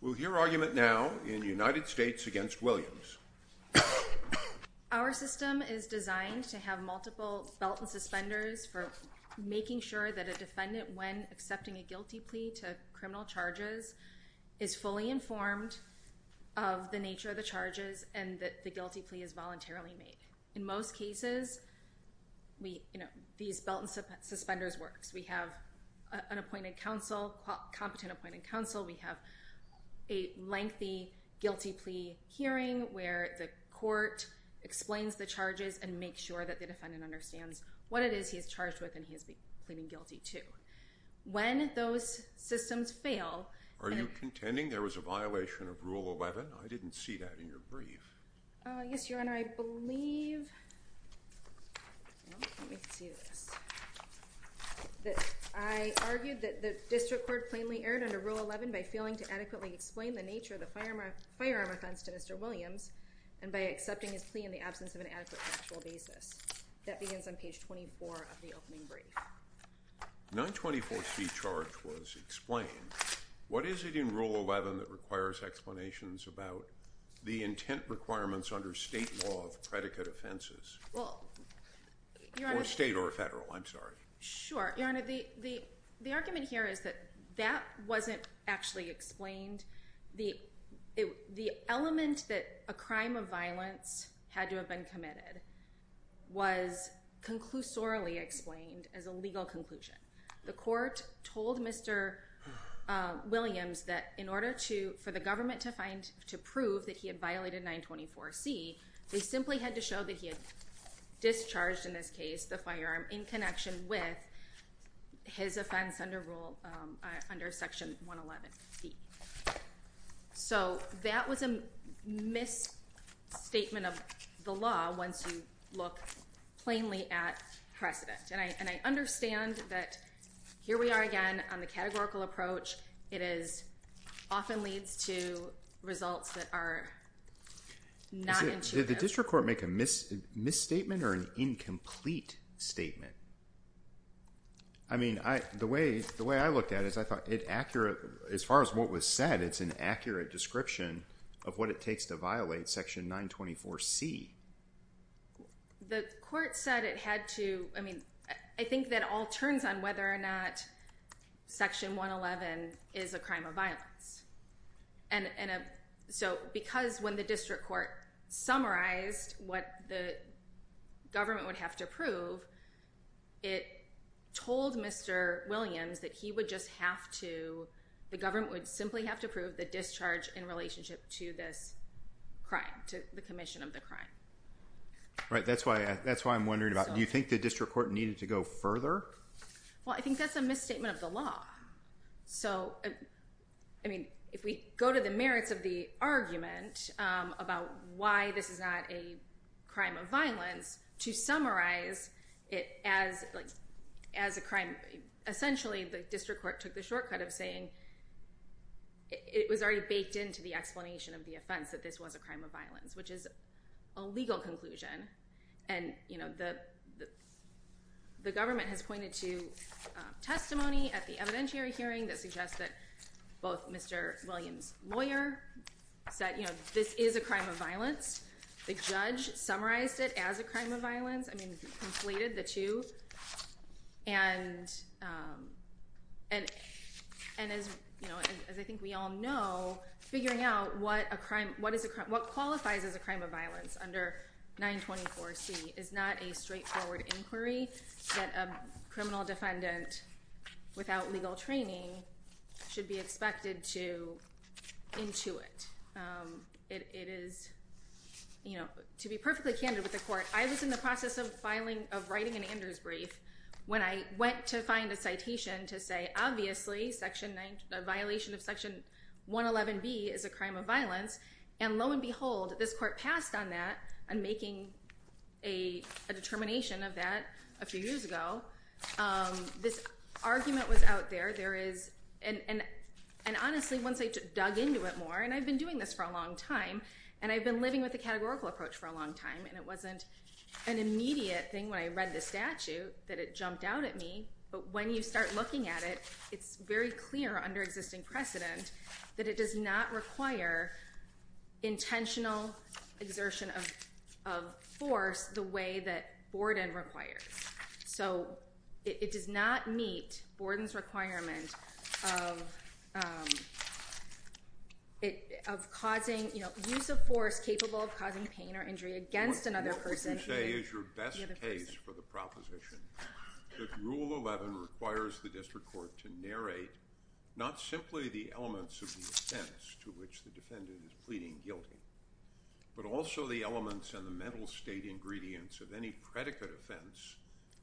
We'll hear argument now in United States v. Williams. Our system is designed to have multiple belt and suspenders for making sure that a defendant, when accepting a guilty plea to criminal charges, is fully informed of the nature of the charges and that the guilty plea is voluntarily made. In most cases, these belt and suspenders work. We have a competent appointed counsel. We have a lengthy guilty plea hearing where the court explains the charges and makes sure that the defendant understands what it is he is charged with and he is pleading guilty to. When those systems fail... Are you contending there was a violation of Rule 11? I didn't see that in your brief. Yes, Your Honor. I believe... Let me see this. I argued that the district court plainly erred under Rule 11 by failing to adequately explain the nature of the firearm offense to Mr. Williams and by accepting his plea in the absence of an adequate factual basis. That begins on page 24 of the opening brief. 924C charge was explained. What is it in Rule 11 that requires explanations about the intent requirements under state law of predicate offenses? State or federal, I'm sorry. Your Honor, the argument here is that that wasn't actually explained. The element that a crime of violence had to have been committed was conclusorily explained as a legal conclusion. The court told Mr. Williams that in order for the government to prove that he had violated 924C, they simply had to show that he had discharged, in this case, the firearm in connection with his offense under Section 111B. So that was a misstatement of the law once you look plainly at precedent. And I understand that here we are again on the categorical approach. It often leads to results that are not intuitive. Did the district court make a misstatement or an incomplete statement? I mean, the way I looked at it, as far as what was said, it's an accurate description of what it takes to violate Section 924C. The court said it had to, I mean, I think that all turns on whether or not Section 111 is a crime of violence. So because when the district court summarized what the government would have to prove, it told Mr. Williams that he would just have to, the government would simply have to prove the discharge in relationship to this crime, to the commission of the crime. Right, that's why I'm wondering about it. Do you think the district court needed to go further? Well, I think that's a misstatement of the law. So, I mean, if we go to the merits of the argument about why this is not a crime of violence, to summarize it as a crime, essentially the district court took the shortcut of saying it was already baked into the explanation of the offense that this was a crime of violence, which is a legal conclusion. And the government has pointed to testimony at the evidentiary hearing that suggests that both Mr. Williams' lawyer said this is a crime of violence, the judge summarized it as a crime of violence, I mean, completed the two. And as I think we all know, figuring out what qualifies as a crime of violence under 924C is not a straightforward inquiry that a criminal defendant without legal training should be expected to intuit. It is, you know, to be perfectly candid with the court, I was in the process of filing, of writing an Anders brief when I went to find a citation to say, obviously, a violation of Section 111B is a crime of violence, and lo and behold, this court passed on that and making a determination of that a few years ago. This argument was out there. And honestly, once I dug into it more, and I've been doing this for a long time, and I've been living with the categorical approach for a long time, and it wasn't an immediate thing when I read the statute that it jumped out at me, but when you start looking at it, it's very clear under existing precedent that it does not require intentional exertion of force the way that Borden requires. So it does not meet Borden's requirement of causing, you know, use of force capable of causing pain or injury against another person. What you say is your best case for the proposition that Rule 11 requires the district court to narrate not simply the elements of the offense to which the defendant is pleading guilty, but also the elements and the mental state ingredients of any predicate offense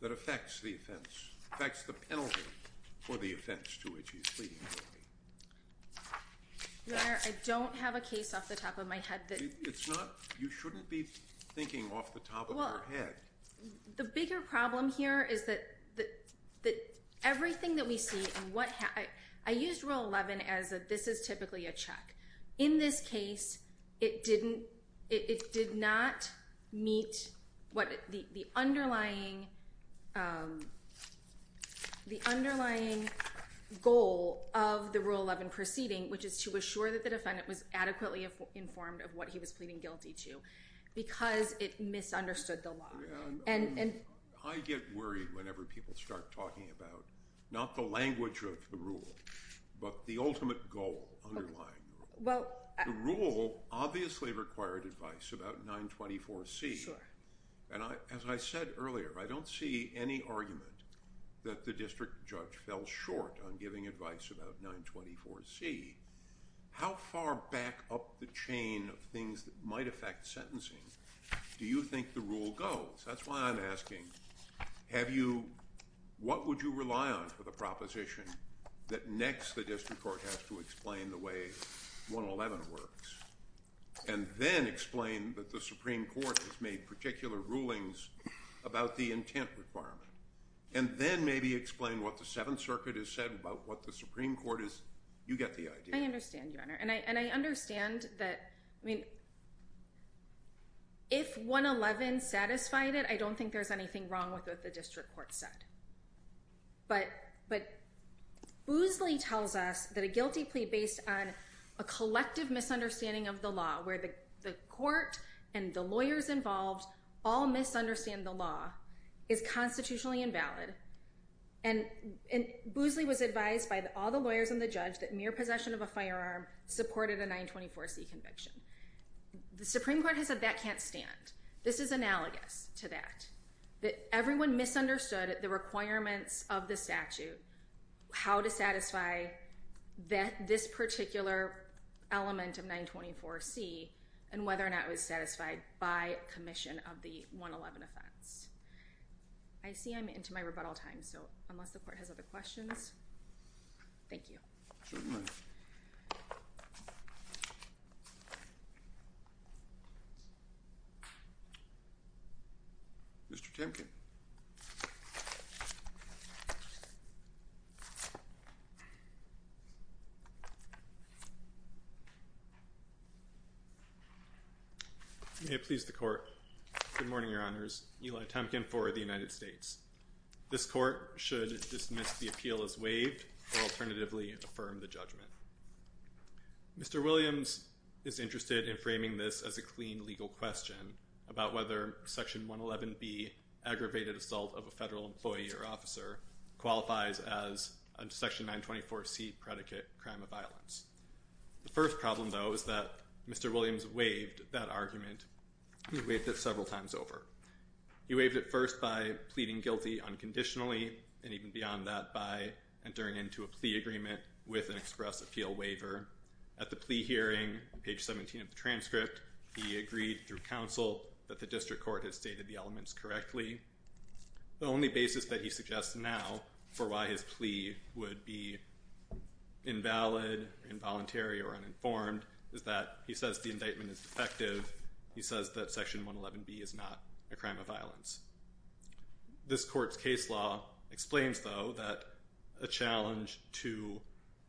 that affects the offense, affects the penalty for the offense to which he is pleading guilty. Your Honor, I don't have a case off the top of my head. You shouldn't be thinking off the top of your head. Well, the bigger problem here is that everything that we see, I used Rule 11 as this is typically a check. In this case, it did not meet the underlying goal of the Rule 11 proceeding, which is to assure that the defendant was adequately informed of what he was pleading guilty to because it misunderstood the law. I get worried whenever people start talking about not the language of the rule, but the ultimate goal underlying the rule. The rule obviously required advice about 924C. As I said earlier, I don't see any argument that the district judge fell short on giving advice about 924C. How far back up the chain of things that might affect sentencing do you think the rule goes? That's why I'm asking, what would you rely on for the proposition that next the district court has to explain the way 111 works and then explain that the Supreme Court has made particular rulings about the intent requirement and then maybe explain what the Seventh Circuit has said about what the Supreme Court is? You get the idea. I understand, Your Honor. I understand that if 111 satisfied it, I don't think there's anything wrong with what the district court said. But Boosley tells us that a guilty plea based on a collective misunderstanding of the law where the court and the lawyers involved all misunderstand the law is constitutionally invalid. And Boosley was advised by all the lawyers and the judge that mere possession of a firearm supported a 924C conviction. The Supreme Court has said that can't stand. This is analogous to that, that everyone misunderstood the requirements of the statute, how to satisfy this particular element of 924C, and whether or not it was satisfied by commission of the 111 offense. I see I'm into my rebuttal time, so unless the court has other questions, thank you. Certainly. Mr. Timken. May it please the court. Good morning, Your Honors. Eli Timken for the United States. This court should dismiss the appeal as waived or alternatively affirm the judgment. Mr. Williams is interested in framing this as a clean legal question about whether Section 111B, aggravated assault of a federal employee or officer, qualifies as a Section 924C predicate crime of violence. The first problem, though, is that Mr. Williams waived that argument. He waived it several times over. He waived it first by pleading guilty unconditionally, and even beyond that by entering into a plea agreement with an express appeal waiver. At the plea hearing, page 17 of the transcript, he agreed through counsel that the district court had stated the elements correctly. The only basis that he suggests now for why his plea would be invalid, involuntary, or uninformed is that he says the indictment is defective. He says that Section 111B is not a crime of violence. This court's case law explains, though, that a challenge to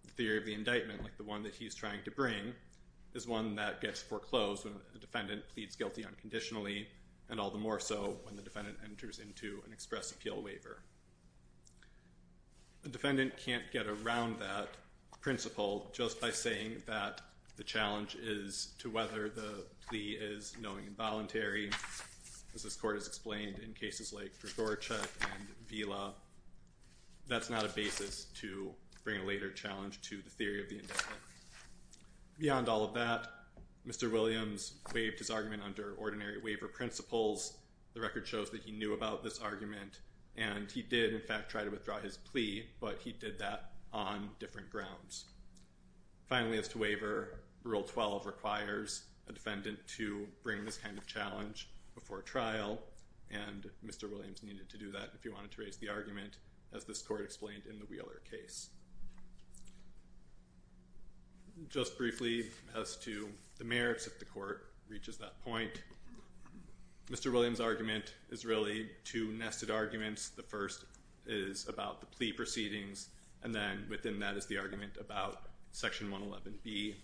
the theory of the indictment, like the one that he's trying to bring, is one that gets foreclosed when a defendant pleads guilty unconditionally and all the more so when the defendant enters into an express appeal waiver. A defendant can't get around that principle just by saying that the challenge is to whether the plea is knowing involuntary. As this court has explained in cases like Gregorchuk and Vila, that's not a basis to bring a later challenge to the theory of the indictment. Beyond all of that, Mr. Williams waived his argument under ordinary waiver principles. The record shows that he knew about this argument, and he did, in fact, try to withdraw his plea, but he did that on different grounds. Finally, as to waiver, Rule 12 requires a defendant to bring this kind of challenge before trial, and Mr. Williams needed to do that if he wanted to raise the argument, as this court explained in the Wheeler case. Just briefly, as to the merits, if the court reaches that point, Mr. Williams' argument is really two nested arguments. The first is about the plea proceedings, and then within that is the argument about Section 111B.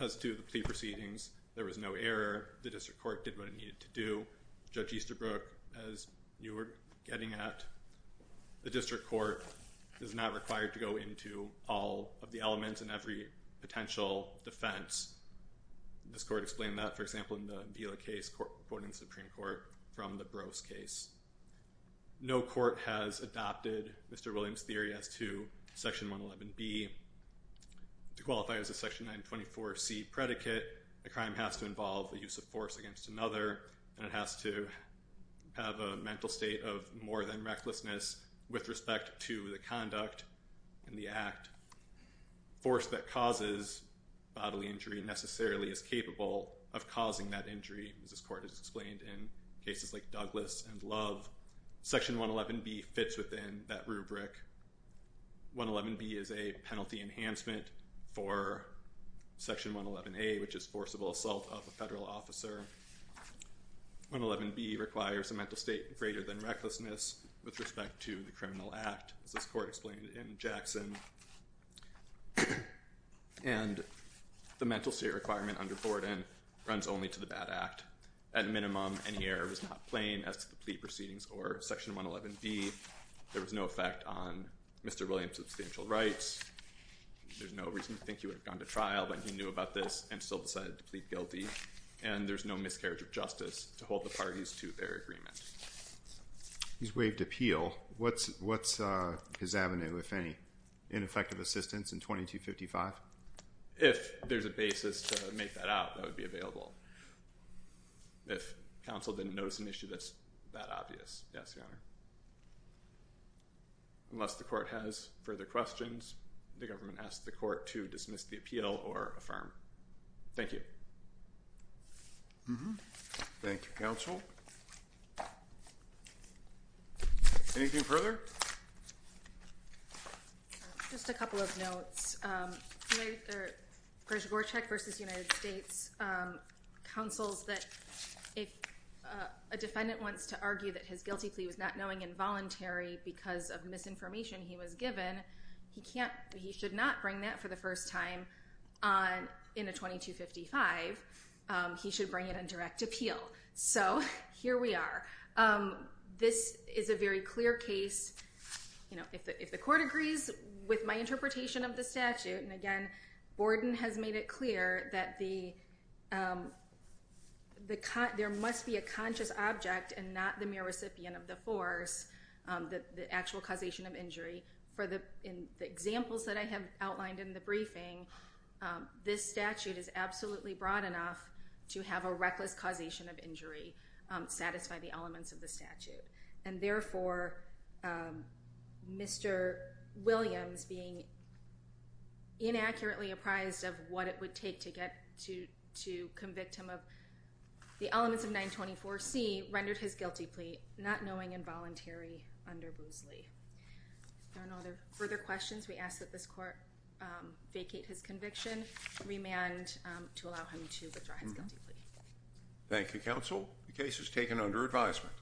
As to the plea proceedings, there was no error. The district court did what it needed to do. Judge Easterbrook, as you were getting at, the district court is not required to go into all of the elements and every potential defense. This court explained that, for example, in the Vila case, according to the Supreme Court, from the Brose case. No court has adopted Mr. Williams' theory as to Section 111B. To qualify as a Section 924C predicate, a crime has to involve the use of force against another, and it has to have a mental state of more than recklessness with respect to the conduct and the act. Force that causes bodily injury necessarily is capable of causing that injury, as this court has explained in cases like Douglas and Love. Section 111B fits within that rubric. 111B is a penalty enhancement for Section 111A, which is forcible assault of a federal officer. 111B requires a mental state greater than recklessness with respect to the criminal act, as this court explained in Jackson. And the mental state requirement under Borden runs only to the bad act. At minimum, any error was not plain as to the plea proceedings or Section 111B. There was no effect on Mr. Williams' substantial rights. There's no reason to think he would have gone to trial, but he knew about this and still decided to plead guilty. And there's no miscarriage of justice to hold the parties to their agreement. He's waived appeal. What's his avenue, if any? Ineffective assistance in 2255? If there's a basis to make that out, that would be available. If counsel didn't notice an issue that's that obvious. Yes, Your Honor. Unless the court has further questions, the government asks the court to dismiss the appeal or affirm. Thank you. Thank you, counsel. Anything further? Just a couple of notes. Gorshgorchuk v. United States counsels that if a defendant wants to argue that his guilty plea was not knowing involuntary because of misinformation he was given, he should not bring that for the first time in a 2255. He should bring it in direct appeal. So here we are. This is a very clear case. If the court agrees with my interpretation of the statute, and again, Borden has made it clear that there must be a conscious object and not the mere recipient of the force, the actual causation of injury. For the examples that I have outlined in the briefing, this statute is absolutely broad enough to have a reckless causation of injury satisfy the elements of the statute. And therefore, Mr. Williams being inaccurately apprised of what it would take to get to convict him of the elements of 924C rendered his guilty plea not knowing involuntary under Boozley. If there are no further questions, we ask that this court vacate his conviction, remand to allow him to withdraw his guilty plea. Thank you, counsel. The case is taken under advisement.